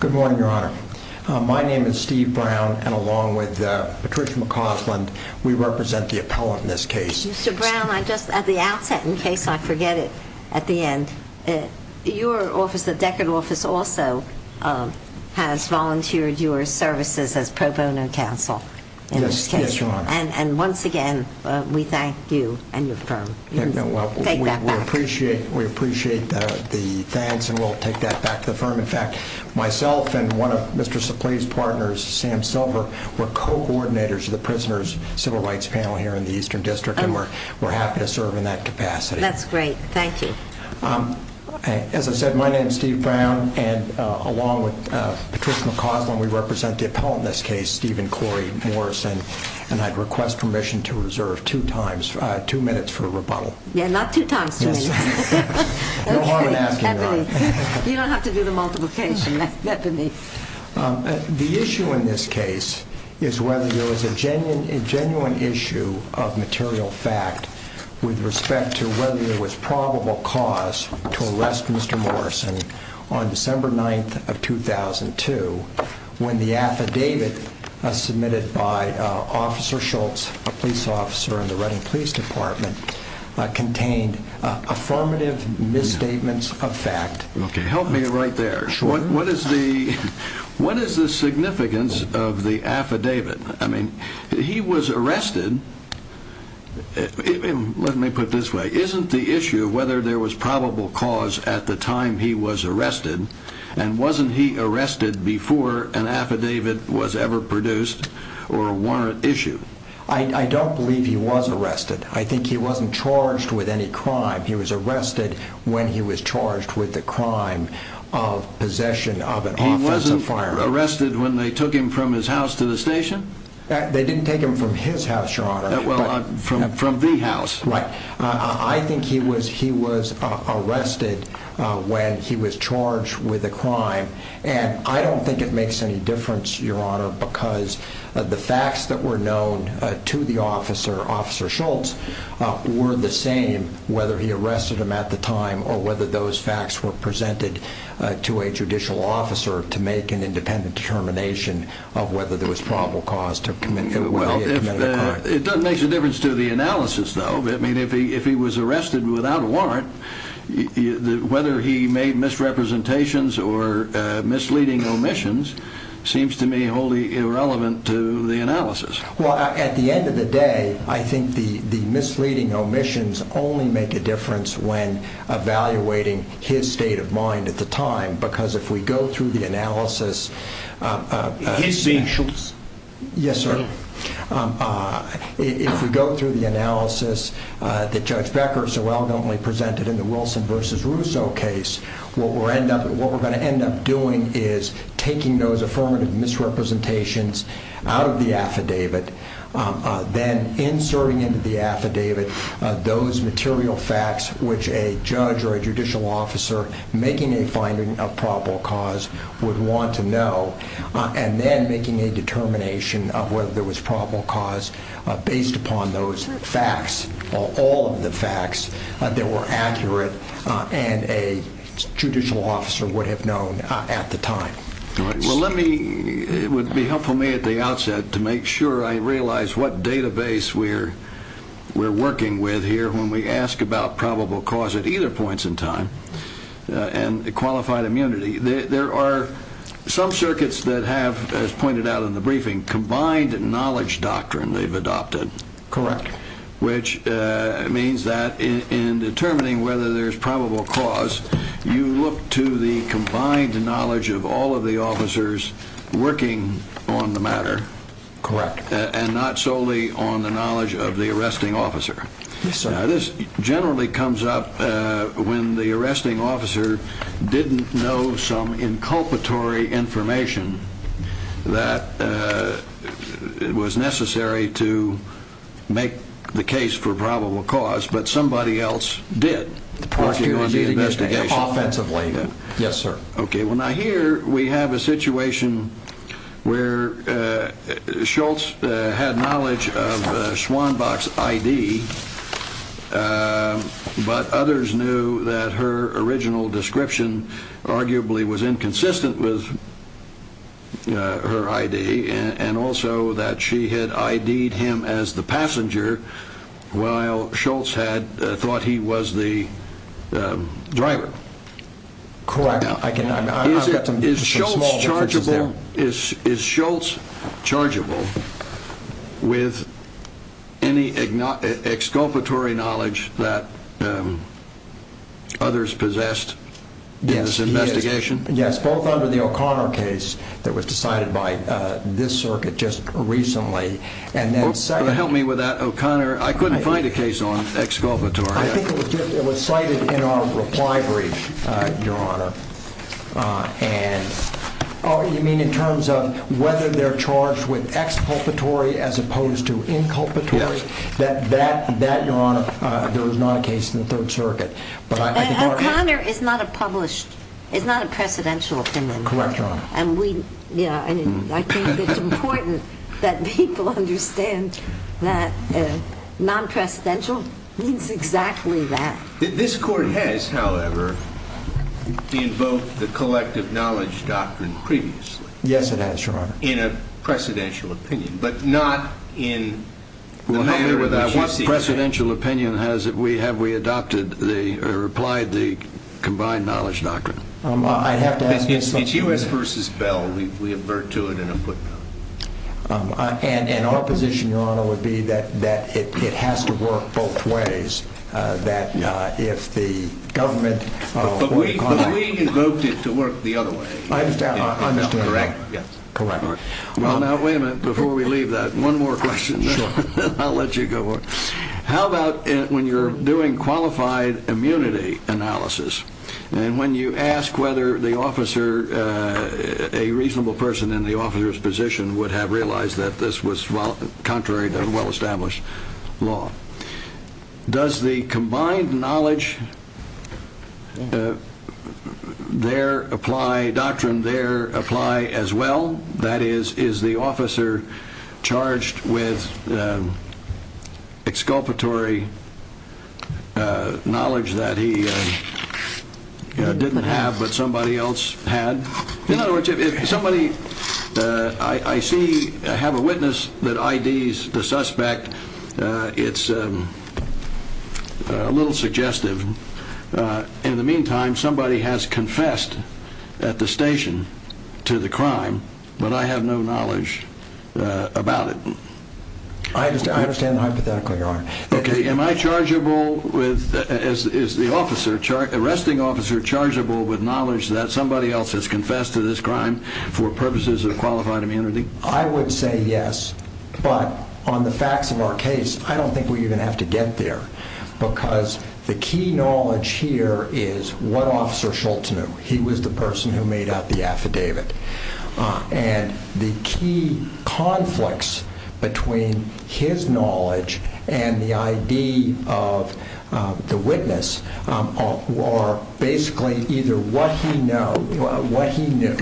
Good morning, Your Honor. My name is Steve Brown, and along with Patricia McCausland, we represent the appellant in this case. Mr. Brown, at the outset, in case I forget it at the end, your office, the Deckard office, also has volunteered your services as pro bono counsel in this case. And once again, we thank you and your firm. We appreciate the thanks, and we'll take that back to the firm. In fact, myself and one of Mr. Suplee's partners, Sam Silver, were co-coordinators of the Prisoner's Civil Rights Panel here in the Eastern District, and we're happy to serve in that capacity. That's great. Thank you. As I said, my name is Steve Brown, and along with Patricia McCausland, we represent the appellant in this case, Stephen Corey Morrison, and I'd request permission to reserve two times, two minutes for a rebuttal. Yeah, not two times, Steve. Yes. Okay. No harm in asking, Your Honor. You don't have to do the multiplication, Deputy. The issue in this case is whether there was a genuine issue of material fact with respect to whether there was probable cause to arrest Mr. Morrison on December 9th of 2002, when the affidavit submitted by Officer Schultz, a police officer in the Reading Police Department, contained affirmative misstatements of fact. Okay. Help me right there. Sure. What is the significance of the affidavit? I mean, he was arrested. Let me put it this way. Isn't the issue whether there was probable cause at the time he was arrested, and wasn't he arrested before an affidavit was ever produced or warrant issued? I don't believe he was arrested. I think he wasn't charged with any crime. He was arrested when he was charged with the crime of possession of an office of firing. He wasn't arrested when they took him from his house to the station? They didn't take him from his house, Your Honor. Well, from the house. Right. I think he was arrested when he was charged with a crime. And I don't think it makes any difference, Your Honor, because the facts that were known to the officer, Officer Schultz, were the same, whether he arrested him at the time or whether those facts were presented to a judicial officer to make an independent determination of whether there was probable cause to commit the crime. It doesn't make a difference to the analysis, though. I mean, if he was arrested without a warrant, whether he made misrepresentations or misleading omissions seems to me wholly irrelevant to the analysis. Well, at the end of the day, I think the misleading omissions only make a difference when evaluating his state of mind at the time, because if we go through the analysis... His being Schultz? Yes, sir. If we go through the analysis that Judge Becker so eloquently presented in the Wilson v. Russo case, what we're going to end up doing is taking those affirmative misrepresentations out of the affidavit, then inserting into the affidavit those material facts which a judge or a judicial officer making a finding of probable cause would want to know, and then making a determination of whether there was probable cause based upon those facts, or all of the facts, that were accurate and a judicial officer would have known at the time. All right. Well, let me... It would be helpful to me at the outset to make sure I realize what database we're working with here when we ask about probable cause at either points in time, and qualified immunity. There are some circuits that have, as pointed out in the briefing, combined knowledge doctrine they've adopted, which means that in determining whether there's probable cause, you look to the combined knowledge of all of the officers working on the matter, and not solely on the knowledge of the arresting officer. Yes, sir. Now, this generally comes up when the arresting officer didn't know some inculpatory information that was necessary to make the case for probable cause, but somebody else did. Working on the investigation. Working on the investigation. Offensively. Yes, sir. Okay. Well, now here we have a situation where Schultz had knowledge of Schwanbach's ID, but others knew that her original description arguably was inconsistent with her ID, and also that she had ID'd him as the passenger, while Schultz had thought he was the driver. Correct. Now, is Schultz chargeable with any exculpatory knowledge that others possessed in this investigation? Yes, both under the O'Connor case that was decided by this circuit just recently, and then second... Help me with that, O'Connor. I couldn't find a case on exculpatory. I think it was cited in our reply brief, Your Honor, and... Oh, you mean in terms of whether they're charged with exculpatory as opposed to inculpatory? Yes. That, Your Honor, there was not a case in the Third Circuit, but I could... O'Connor is not a published, is not a precedential opinion. Correct, Your Honor. And we, yeah, I mean, I think it's important that people understand that non-precedential means exactly that. This Court has, however, invoked the collective knowledge doctrine previously. Yes, it has, Your Honor. In a precedential opinion, but not in the manner in which you see it. Well, help me with that. What precedential opinion has it, have we adopted the, or applied the combined knowledge doctrine? I'd have to ask you something... It's U.S. versus Bell. We avert to it in a footnote. And our position, Your Honor, would be that it has to work both ways, that if the government... But we invoked it to work the other way. I understand. Correct, yes. Correct. Well, now, wait a minute, before we leave that, one more question. Sure. I'll let you go on. How about when you're doing qualified immunity analysis, and when you ask whether the officer, a reasonable person in the officer's position would have realized that this was contrary to well-established law. Does the combined knowledge there apply, doctrine there apply as well? That is, is the officer charged with exculpatory knowledge that he didn't have, but somebody else had? In other words, if somebody, I see, I have a witness that IDs the suspect, it's a little suggestive. In the meantime, somebody has confessed at the station to the crime, but I have no knowledge about it. Okay, am I chargeable, is the arresting officer chargeable with knowledge that somebody else has confessed to this crime for purposes of qualified immunity? I would say yes, but on the facts of our case, I don't think we even have to get there, because the key knowledge here is what Officer Shultz knew. He was the person who made out the affidavit. And the key conflicts between his knowledge and the ID of the witness are basically either what he knew,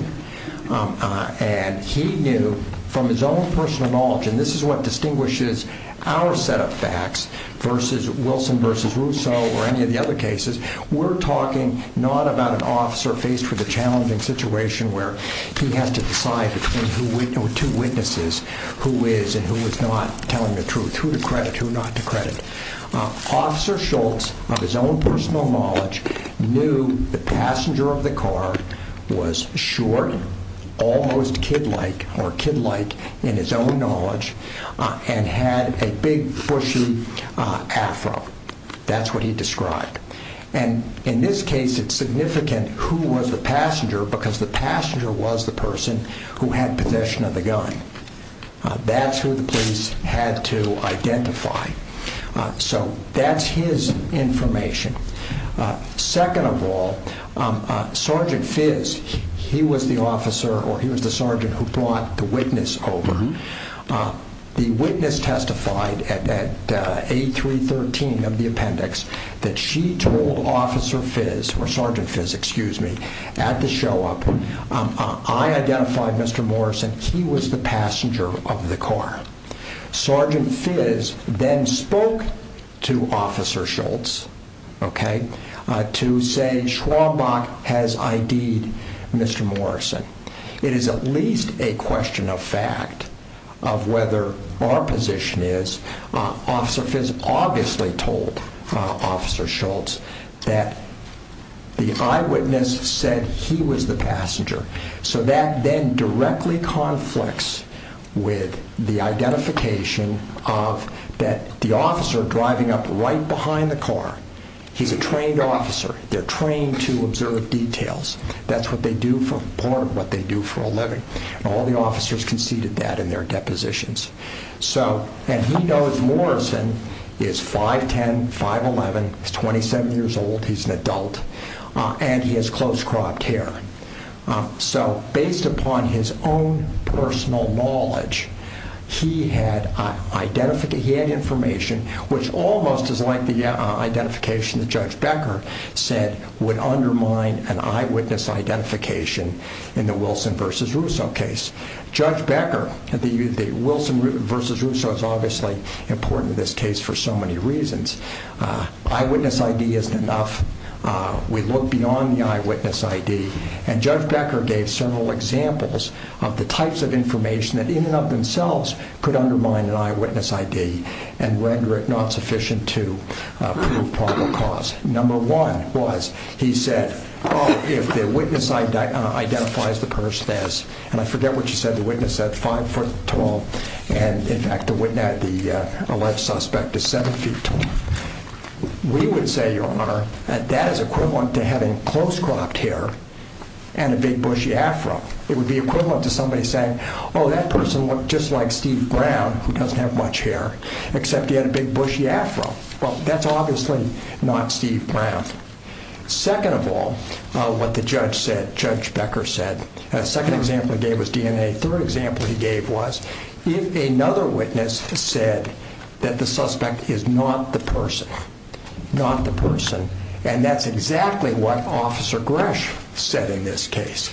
and he knew from his own personal knowledge, and this is what distinguishes our set of facts versus Wilson versus Rousseau or any of the other cases. We're talking not about an officer faced with a challenging situation where he has to decide between two witnesses, who is and who is not telling the truth, who to credit, who not to credit. Officer Shultz, of his own personal knowledge, knew the passenger of the car was short, almost kid-like in his own knowledge, and had a big, bushy afro. That's what he described. And in this case, it's significant who was the passenger, because the passenger was the person who had possession of the gun. That's who the police had to identify. So that's his information. Second of all, Sergeant Fiz, he was the officer, or he was the sergeant, who brought the witness over. The witness testified at A313 of the appendix that she told Officer Fiz, or Sergeant Fiz, excuse me, at the show-up, I identified Mr. Morrison, he was the passenger of the car. Sergeant Fiz then spoke to Officer Shultz to say, Schwambach has ID'd Mr. Morrison. It is at least a question of fact of whether our position is, Officer Fiz obviously told Officer Shultz that the eyewitness said he was the passenger. So that then directly conflicts with the identification of the officer driving up right behind the car. He's a trained officer. They're trained to observe details. That's part of what they do for a living. All the officers conceded that in their depositions. And he knows Morrison is 5'10", 5'11". He's 27 years old. He's an adult. And he has close-cropped hair. So based upon his own personal knowledge, he had information which almost is like the identification that Judge Becker said would undermine an eyewitness identification in the Wilson v. Russo case. Judge Becker, the Wilson v. Russo is obviously important in this case for so many reasons. Eyewitness ID isn't enough. We look beyond the eyewitness ID. And Judge Becker gave several examples of the types of information that in and of themselves could undermine an eyewitness ID and render it not sufficient to prove probable cause. Number one was he said, oh, if the witness identifies the person as, and I forget what you said, the witness said 5'12". And, in fact, the alleged suspect is 7'12". We would say, Your Honor, that is equivalent to having close-cropped hair and a big bushy afro. It would be equivalent to somebody saying, oh, that person looked just like Steve Brown, who doesn't have much hair, except he had a big bushy afro. Well, that's obviously not Steve Brown. Second of all, what the judge said, Judge Becker said, the second example he gave was DNA. The third example he gave was if another witness said that the suspect is not the person, not the person, and that's exactly what Officer Gresh said in this case.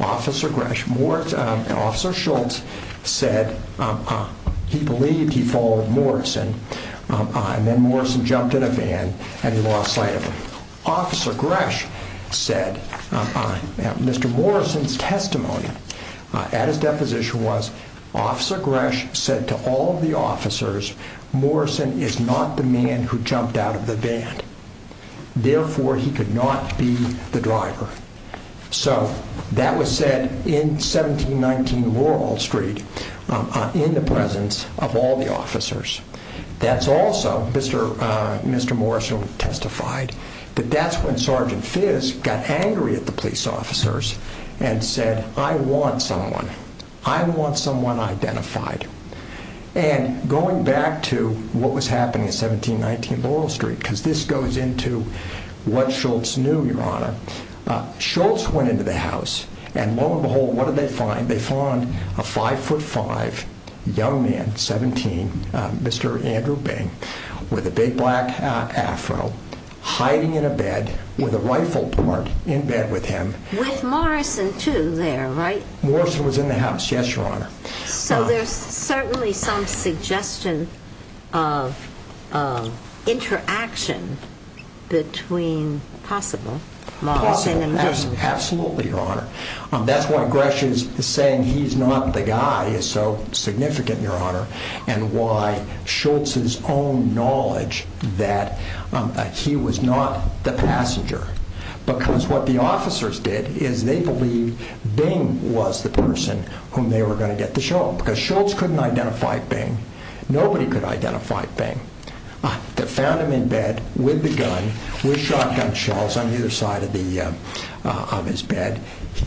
Officer Gresh, Moritz, and Officer Schultz said he believed he followed Moritz and then Moritz jumped in a van and he lost sight of him. Officer Gresh said, Mr. Moritz's testimony at his deposition was, Officer Gresh said to all of the officers, Moritz is not the man who jumped out of the van. Therefore, he could not be the driver. So that was said in 1719 Laurel Street in the presence of all the officers. That's also, Mr. Morrison testified, that that's when Sergeant Fizz got angry at the police officers and said, I want someone. I want someone identified. And going back to what was happening at 1719 Laurel Street, because this goes into what Schultz knew, Your Honor, Schultz went into the house and lo and behold, what did they find? They found a 5'5 young man, 17, Mr. Andrew Bing, with a big black afro, hiding in a bed with a rifle point in bed with him. With Morrison, too, there, right? Morrison was in the house, yes, Your Honor. So there's certainly some suggestion of interaction between possible Morrison and Bing. Absolutely, Your Honor. That's why Gresh is saying he's not the guy is so significant, Your Honor, and why Schultz's own knowledge that he was not the passenger, because what the officers did is they believed Bing was the person whom they were going to get to show them, because Schultz couldn't identify Bing. Nobody could identify Bing. They found him in bed with the gun, with shotgun shells on either side of his bed.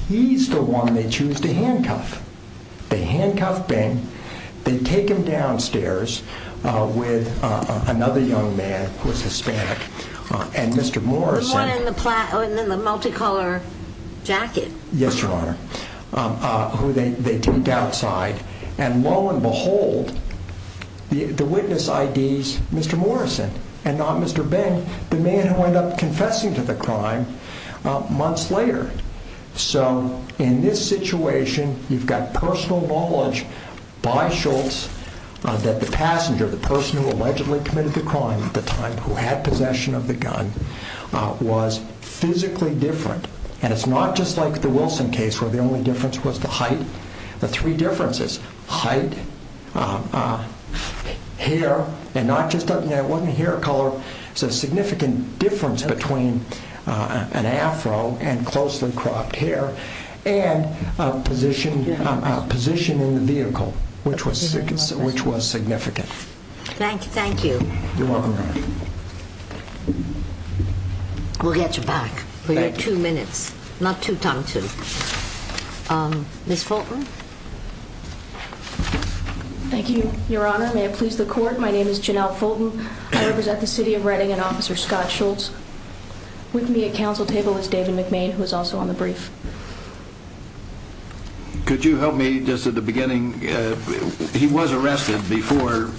He's the one they choose to handcuff. They handcuff Bing. They take him downstairs with another young man who was Hispanic, and Mr. Morrison. The one in the multicolor jacket. Yes, Your Honor, who they take outside. And lo and behold, the witness IDs Mr. Morrison and not Mr. Bing, the man who ended up confessing to the crime months later. So in this situation, you've got personal knowledge by Schultz that the passenger, the person who allegedly committed the crime at the time who had possession of the gun, was physically different. And it's not just like the Wilson case where the only difference was the height. The three differences, height, hair, and not just that it wasn't a hair color, it's a significant difference between an afro and closely cropped hair, and a position in the vehicle, which was significant. Thank you. You're welcome, Your Honor. We'll get you back for your two minutes. Not two times two. Ms. Fulton. Thank you, Your Honor. May it please the court, my name is Janelle Fulton. I represent the city of Reading and Officer Scott Schultz. With me at council table is David McMain, who is also on the brief. Could you help me just at the beginning? He was arrested before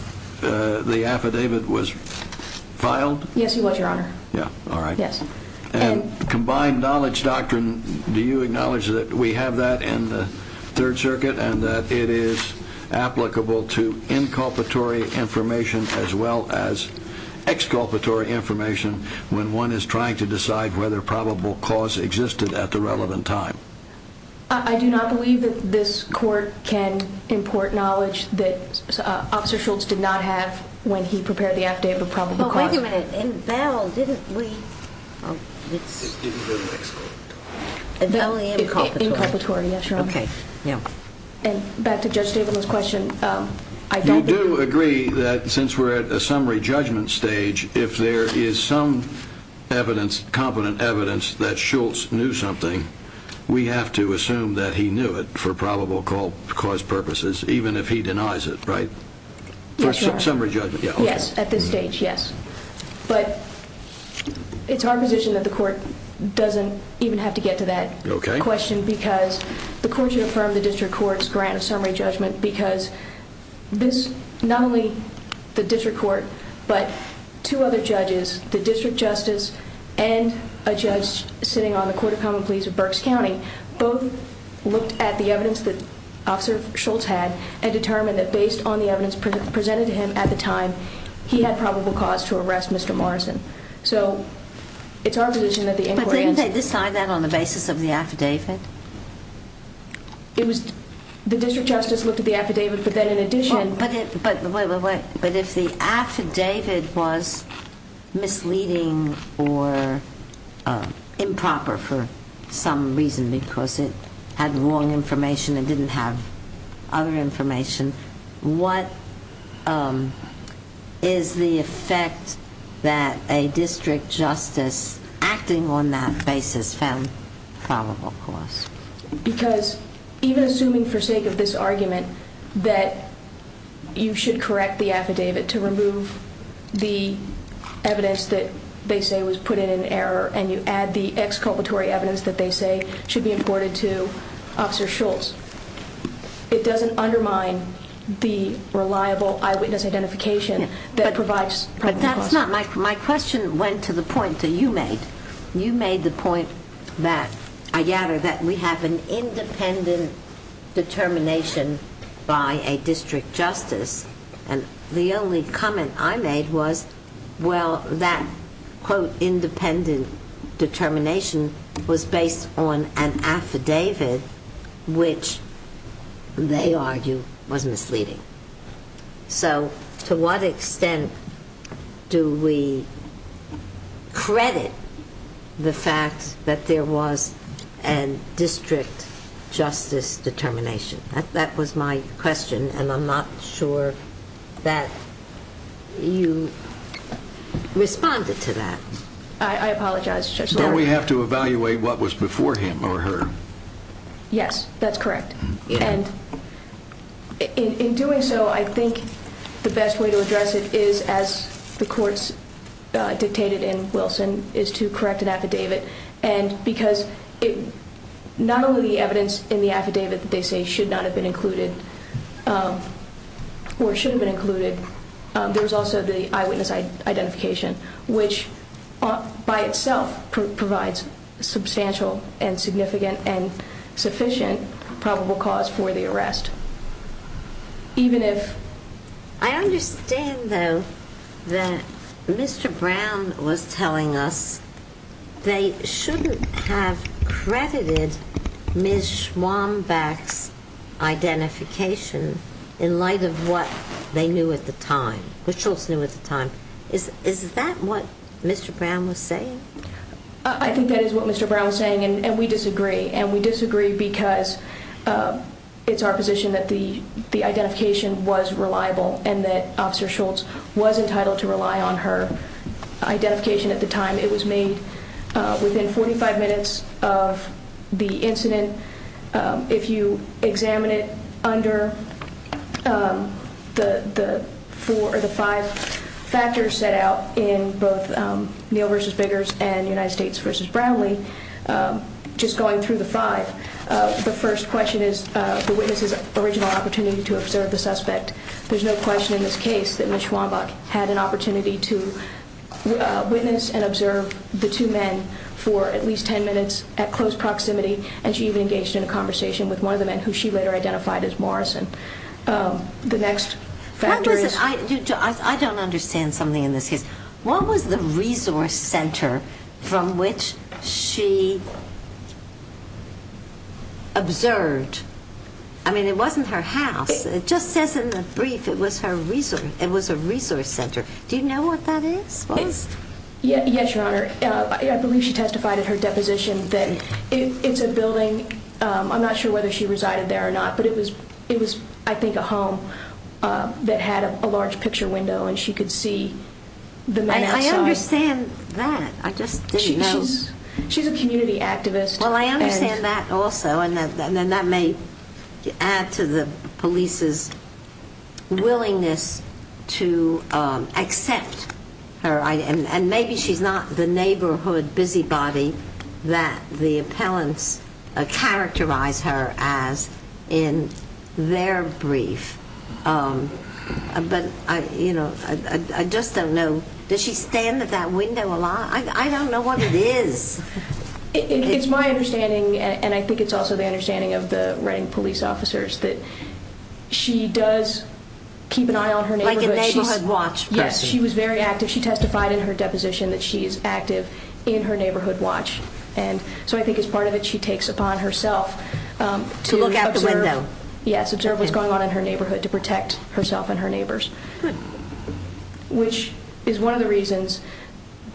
the affidavit was filed? Yes, he was, Your Honor. All right. Combined knowledge doctrine, do you acknowledge that we have that in the Third Circuit and that it is applicable to inculpatory information as well as exculpatory information when one is trying to decide whether probable cause existed at the relevant time? I do not believe that this court can import knowledge that Officer Schultz did not have when he prepared the affidavit of probable cause. Wait a minute. In Bell, didn't we? It's in the next court. In Bell, inculpatory. Inculpatory, yes, Your Honor. Okay, yeah. Back to Judge Stabenow's question. You do agree that since we're at a summary judgment stage, if there is some evidence, competent evidence, that Schultz knew something, we have to assume that he knew it for probable cause purposes, even if he denies it, right? Yes, Your Honor. For summary judgment. Yes, at this stage, yes. But it's our position that the court doesn't even have to get to that question because the court should affirm the district court's grant of summary judgment because this, not only the district court, but two other judges, the district justice and a judge sitting on the Court of Common Pleas of Berks County, both looked at the evidence that Officer Schultz had and determined that based on the evidence presented to him at the time, he had probable cause to arrest Mr. Morrison. So it's our position that the inquiry... But didn't they decide that on the basis of the affidavit? The district justice looked at the affidavit, but then in addition... But if the affidavit was misleading or improper for some reason because it had wrong information and didn't have other information, what is the effect that a district justice acting on that basis found probable cause? Because even assuming for sake of this argument that you should correct the affidavit to remove the evidence that they say was put in in error and you add the exculpatory evidence that they say should be imported to Officer Schultz, it doesn't undermine the reliable eyewitness identification that provides... But that's not... My question went to the point that you made. You made the point that we have an independent determination by a district justice, and the only comment I made was, well, that, quote, which they argue was misleading. So to what extent do we credit the fact that there was a district justice determination? That was my question, and I'm not sure that you responded to that. Don't we have to evaluate what was before him or her? Yes, that's correct. And in doing so, I think the best way to address it is, as the courts dictated in Wilson, is to correct an affidavit because not only the evidence in the affidavit that they say should not have been included or should have been included, there's also the eyewitness identification, which by itself provides substantial and significant and sufficient probable cause for the arrest, even if... I understand, though, that Mr. Brown was telling us that they shouldn't have credited Ms. Schwambach's identification in light of what they knew at the time, what Schultz knew at the time. Is that what Mr. Brown was saying? I think that is what Mr. Brown was saying, and we disagree. And we disagree because it's our position that the identification was reliable and that Officer Schultz was entitled to rely on her identification at the time. It was made within 45 minutes of the incident. If you examine it under the five factors set out in both Neal v. Biggers and United States v. Brownlee, just going through the five, the first question is the witness's original opportunity to observe the suspect. There's no question in this case that Ms. Schwambach had an opportunity to witness and observe the two men for at least 10 minutes at close proximity, and she even engaged in a conversation with one of the men who she later identified as Morrison. The next factor is... I don't understand something in this case. What was the resource center from which she observed? I mean, it wasn't her house. It just says in the brief it was a resource center. Do you know what that is? Yes, Your Honor. I believe she testified at her deposition that it's a building. I'm not sure whether she resided there or not, but it was, I think, a home that had a large picture window and she could see the men outside. I understand that. I just didn't know. She's a community activist. Well, I understand that also, and that may add to the police's willingness to accept her, and maybe she's not the neighborhood busybody that the appellants characterize her as in their brief. But, you know, I just don't know. Does she stand at that window a lot? I don't know what it is. It's my understanding, and I think it's also the understanding of the Reading police officers, that she does keep an eye on her neighborhood. Like a neighborhood watch person. Yes, she was very active. She testified in her deposition that she is active in her neighborhood watch. And so I think it's part of it she takes upon herself to observe. To look out the window. Yes, observe what's going on in her neighborhood to protect herself and her neighbors. Good. Which is one of the reasons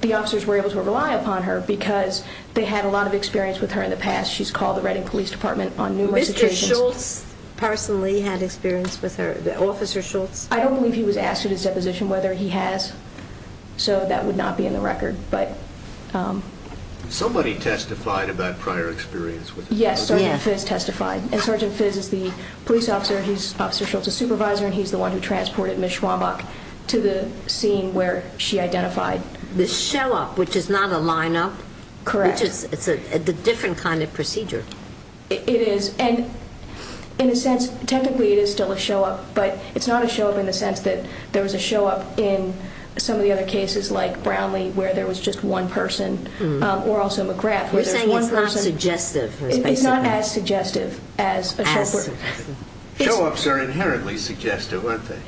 the officers were able to rely upon her, because they had a lot of experience with her in the past. She's called the Reading Police Department on numerous occasions. Mr. Schultz personally had experience with her. Officer Schultz. I don't believe he was asked at his deposition whether he has, so that would not be in the record. Somebody testified about prior experience with her. Yes, Sergeant Fizz testified. And Sergeant Fizz is the police officer, and he's Officer Schultz's supervisor, and he's the one who transported Ms. Schwambach to the scene where she identified. The show-up, which is not a line-up. Correct. It's a different kind of procedure. It is. And in a sense, technically it is still a show-up, but it's not a show-up in the sense that there was a show-up in some of the other cases, like Brownlee, where there was just one person, or also McGrath. You're saying it's not suggestive. It's not as suggestive as a show-up. Show-ups are inherently suggestive, aren't they?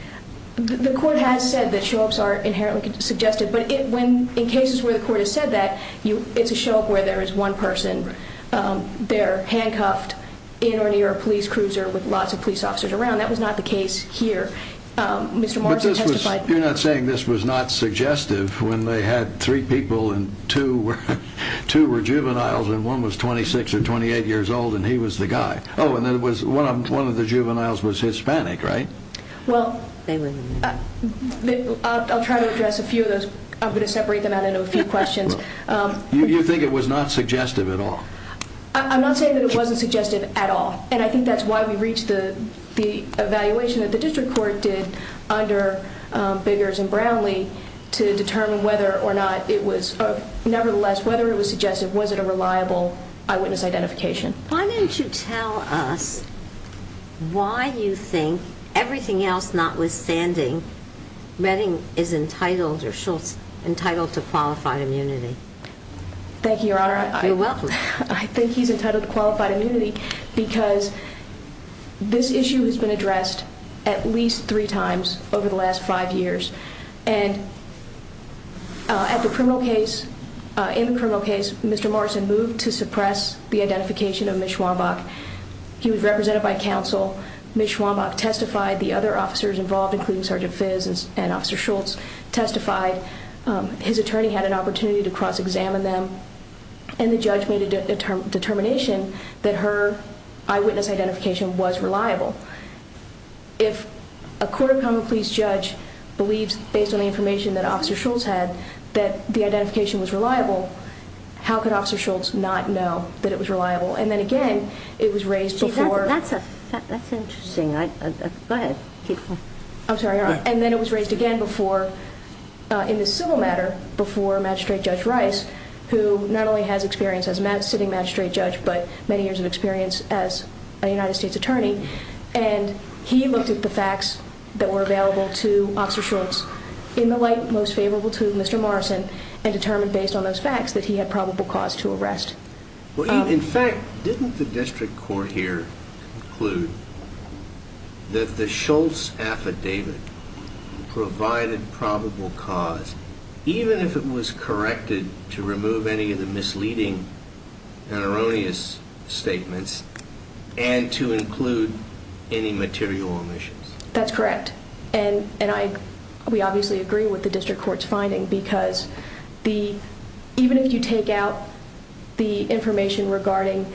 The court has said that show-ups are inherently suggestive, but in cases where the court has said that, it's a show-up where there is one person. They're handcuffed in or near a police cruiser with lots of police officers around. That was not the case here. Mr. Martin testified. You're not saying this was not suggestive when they had three people and two were juveniles and one was 26 or 28 years old and he was the guy. Oh, and one of the juveniles was Hispanic, right? Well, I'll try to address a few of those. I'm going to separate them out into a few questions. You think it was not suggestive at all? I'm not saying that it wasn't suggestive at all, and I think that's why we reached the evaluation that the district court did under Biggers and Brownlee to determine whether or not it was, nevertheless, whether it was suggestive. Was it a reliable eyewitness identification? Why didn't you tell us why you think everything else notwithstanding, Redding is entitled or Schultz is entitled to qualified immunity? Thank you, Your Honor. You're welcome. I think he's entitled to qualified immunity because this issue has been addressed at least three times over the last five years. And at the criminal case, in the criminal case, Mr. Morrison moved to suppress the identification of Ms. Schwambach. He was represented by counsel. Ms. Schwambach testified. The other officers involved, including Sergeant Fizz and Officer Schultz, testified. His attorney had an opportunity to cross-examine them, and the judge made a determination that her eyewitness identification was reliable. If a court of common pleas judge believes, based on the information that Officer Schultz had, that the identification was reliable, how could Officer Schultz not know that it was reliable? And then again, it was raised before. That's interesting. Go ahead. I'm sorry, Your Honor. And then it was raised again before, in the civil matter, before Magistrate Judge Rice, who not only has experience as a sitting magistrate judge, but many years of experience as a United States attorney, and he looked at the facts that were available to Officer Schultz, in the light most favorable to Mr. Morrison, and determined, based on those facts, that he had probable cause to arrest. In fact, didn't the district court here conclude that the Schultz affidavit provided probable cause, even if it was corrected to remove any of the misleading and erroneous statements, and to include any material omissions? That's correct. And we obviously agree with the district court's finding, because even if you take out the information regarding,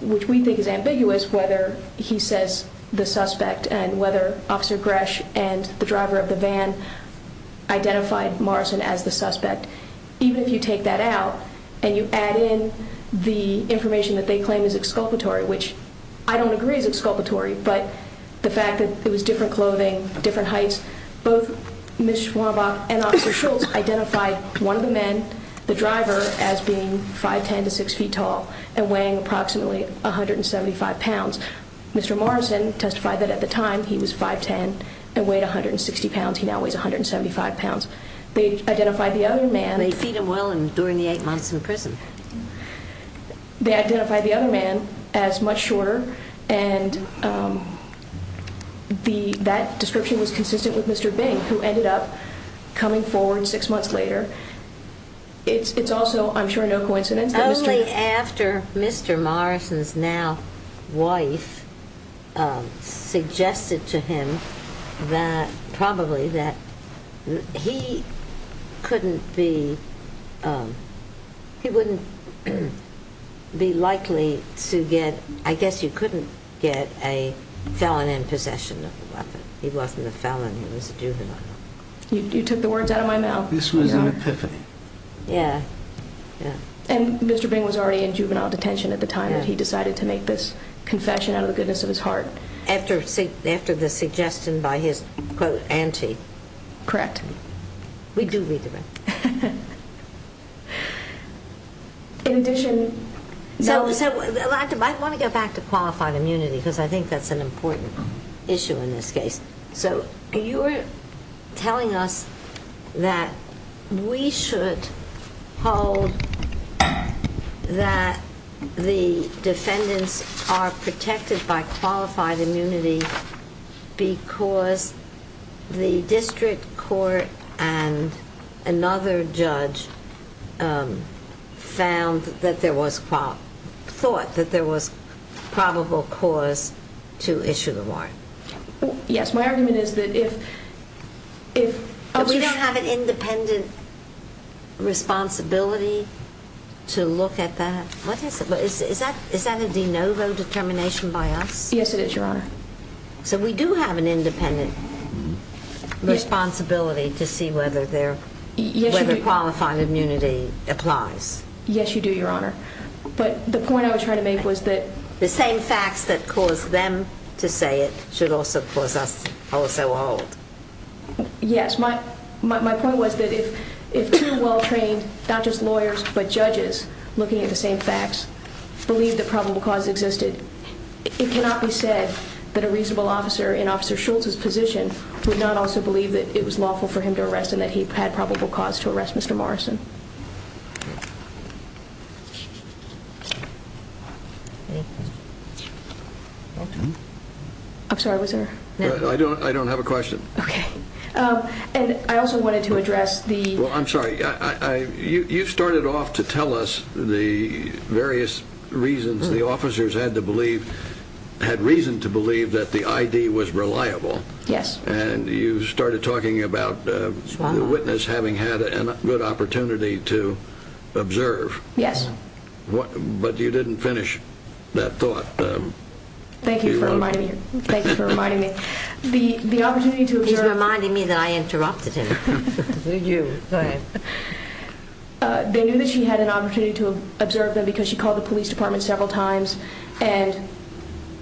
which we think is ambiguous, whether he says the suspect and whether Officer Gresh and the driver of the van identified Morrison as the suspect, even if you take that out and you add in the information that they claim is exculpatory, which I don't agree is exculpatory, but the fact that it was different clothing, different heights, both Ms. Schwanbach and Officer Schultz identified one of the men, the driver, as being 5'10 to 6 feet tall and weighing approximately 175 pounds. Mr. Morrison testified that at the time he was 5'10 and weighed 160 pounds. He now weighs 175 pounds. They identified the other man. They feed him well and during the eight months in prison. They identified the other man as much shorter, and that description was consistent with Mr. Bing, who ended up coming forward six months later. It's also, I'm sure, no coincidence that Mr. Mr. Morrison's now wife suggested to him that probably that he couldn't be, he wouldn't be likely to get, I guess you couldn't get a felon in possession of a weapon. He wasn't a felon, he was a juvenile. You took the words out of my mouth. This was an epiphany. Yeah. And Mr. Bing was already in juvenile detention at the time that he decided to make this confession out of the goodness of his heart. After the suggestion by his, quote, auntie. Correct. We do read the record. In addition, I want to get back to qualified immunity because I think that's an important issue in this case. So you're telling us that we should hold that the defendants are protected by qualified immunity because the district court and another judge found that there was, thought that there was probable cause to issue the warrant. Yes. My argument is that if. We don't have an independent responsibility to look at that. What is it? Is that a de novo determination by us? Yes, it is, Your Honor. So we do have an independent responsibility to see whether qualified immunity applies. Yes, you do, Your Honor. But the point I was trying to make was that. The same facts that cause them to say it should also cause us also hold. Yes, my point was that if two well-trained, not just lawyers, but judges, looking at the same facts, believe that probable cause existed, it cannot be said that a reasonable officer in Officer Schultz's position would not also believe that it was lawful for him to arrest and that he had probable cause to arrest Mr. Morrison. I'm sorry, was there a question? I don't have a question. Okay. And I also wanted to address the... Well, I'm sorry. You started off to tell us the various reasons the officers had to believe, had reason to believe that the I.D. was reliable. Yes. And you started talking about the witness having had a good opportunity to observe. Yes. But you didn't finish that thought. Thank you for reminding me. The opportunity to observe... He's reminding me that I interrupted him. They knew that she had an opportunity to observe them because she called the police department several times and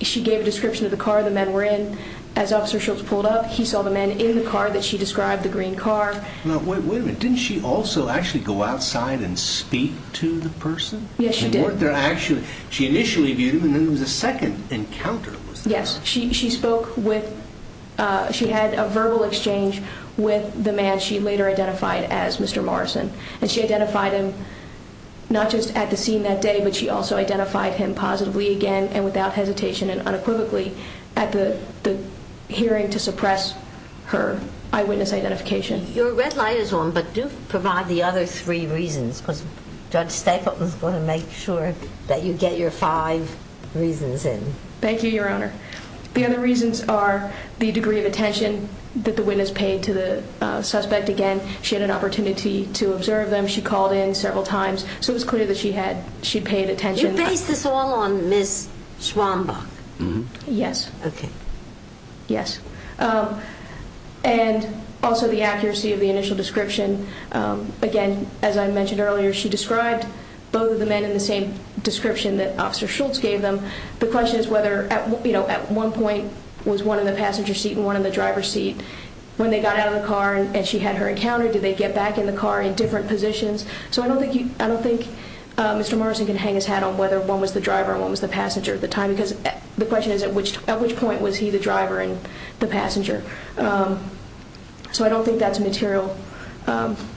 she gave a description of the car the men were in. As Officer Schultz pulled up, he saw the men in the car that she described, the green car. Wait a minute. Didn't she also actually go outside and speak to the person? Yes, she did. They weren't there actually. She initially viewed him, and then there was a second encounter. Yes. She spoke with... She had a verbal exchange with the man she later identified as Mr. Morrison. And she identified him not just at the scene that day, but she also identified him positively again and without hesitation and unequivocally at the hearing to suppress her eyewitness identification. Your red light is on, but do provide the other three reasons because Judge Stapleton is going to make sure that you get your five reasons in. Thank you, Your Honor. The other reasons are the degree of attention that the witness paid to the suspect. Again, she had an opportunity to observe them. She called in several times, so it was clear that she had paid attention. You based this all on Ms. Schwambach? Yes. Okay. Yes. And also the accuracy of the initial description. Again, as I mentioned earlier, she described both of the men in the same description that Officer Schultz gave them. The question is whether at one point was one in the passenger seat and one in the driver's seat. When they got out of the car and she had her encounter, did they get back in the car in different positions? So I don't think Mr. Morrison can hang his hat on whether one was the driver and one was the passenger at the time because the question is at which point was he the driver and the passenger. So I don't think that's a material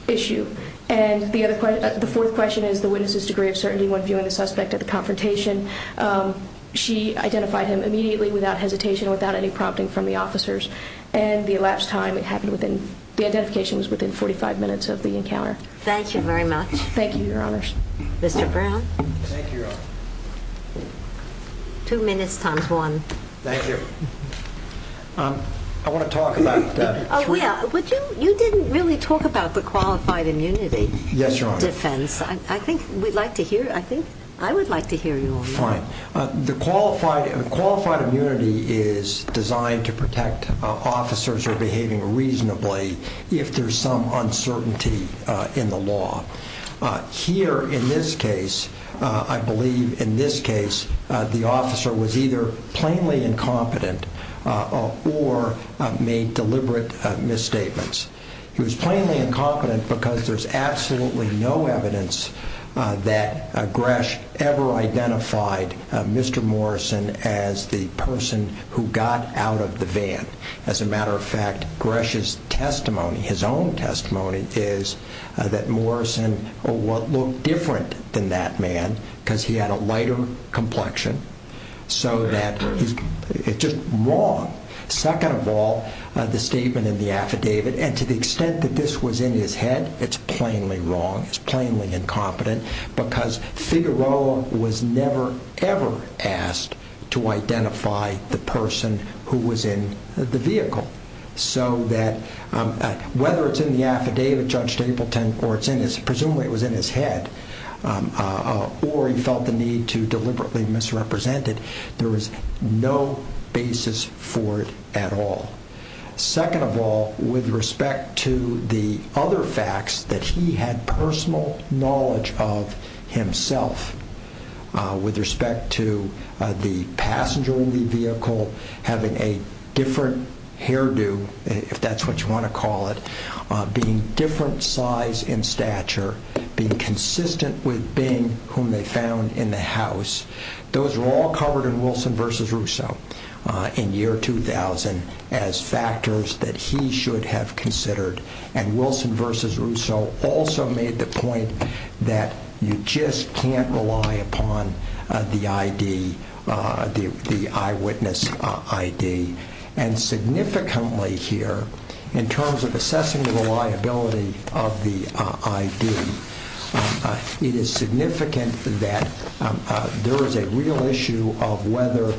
issue. And the fourth question is the witness's degree of certainty when viewing the suspect at the confrontation. She identified him immediately without hesitation, without any prompting from the officers, and the elapsed time, the identification was within 45 minutes of the encounter. Thank you very much. Mr. Brown? Thank you, Your Honor. Two minutes times one. Thank you. I want to talk about that. Oh, yeah. You didn't really talk about the qualified immunity defense. Yes, Your Honor. I think we'd like to hear, I think I would like to hear you on that. Fine. The qualified immunity is designed to protect officers who are behaving reasonably if there's some uncertainty in the law. Here in this case, I believe in this case the officer was either plainly incompetent or made deliberate misstatements. He was plainly incompetent because there's absolutely no evidence that Gresh ever identified Mr. Morrison as the person who got out of the van. As a matter of fact, Gresh's testimony, his own testimony, is that Morrison looked different than that man because he had a lighter complexion. So that is just wrong. Second of all, the statement in the affidavit, and to the extent that this was in his head, it's plainly wrong, it's plainly incompetent, because Figueroa was never, ever asked to identify the person who was in the vehicle. So that whether it's in the affidavit, Judge Stapleton, or it's in his, presumably it was in his head, or he felt the need to deliberately misrepresent it, there was no basis for it at all. Second of all, with respect to the other facts that he had personal knowledge of himself, with respect to the passenger in the vehicle having a different hairdo, if that's what you want to call it, being different size in stature, being consistent with being whom they found in the house, those are all covered in Wilson v. Russo in year 2000 as factors that he should have considered. And Wilson v. Russo also made the point that you just can't rely upon the ID, the eyewitness ID. And significantly here, in terms of assessing the reliability of the ID, it is significant that there is a real issue of whether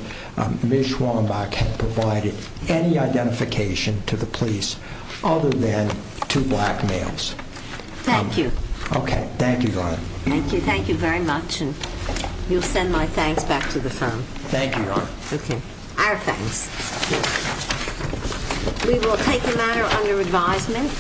Ms. Schwanbach had provided any identification to the police other than two black males. Thank you. Okay. Thank you, Your Honor. Thank you very much, and you'll send my thanks back to the firm. Thank you, Your Honor. Okay. Our thanks. We will take the matter under advisement.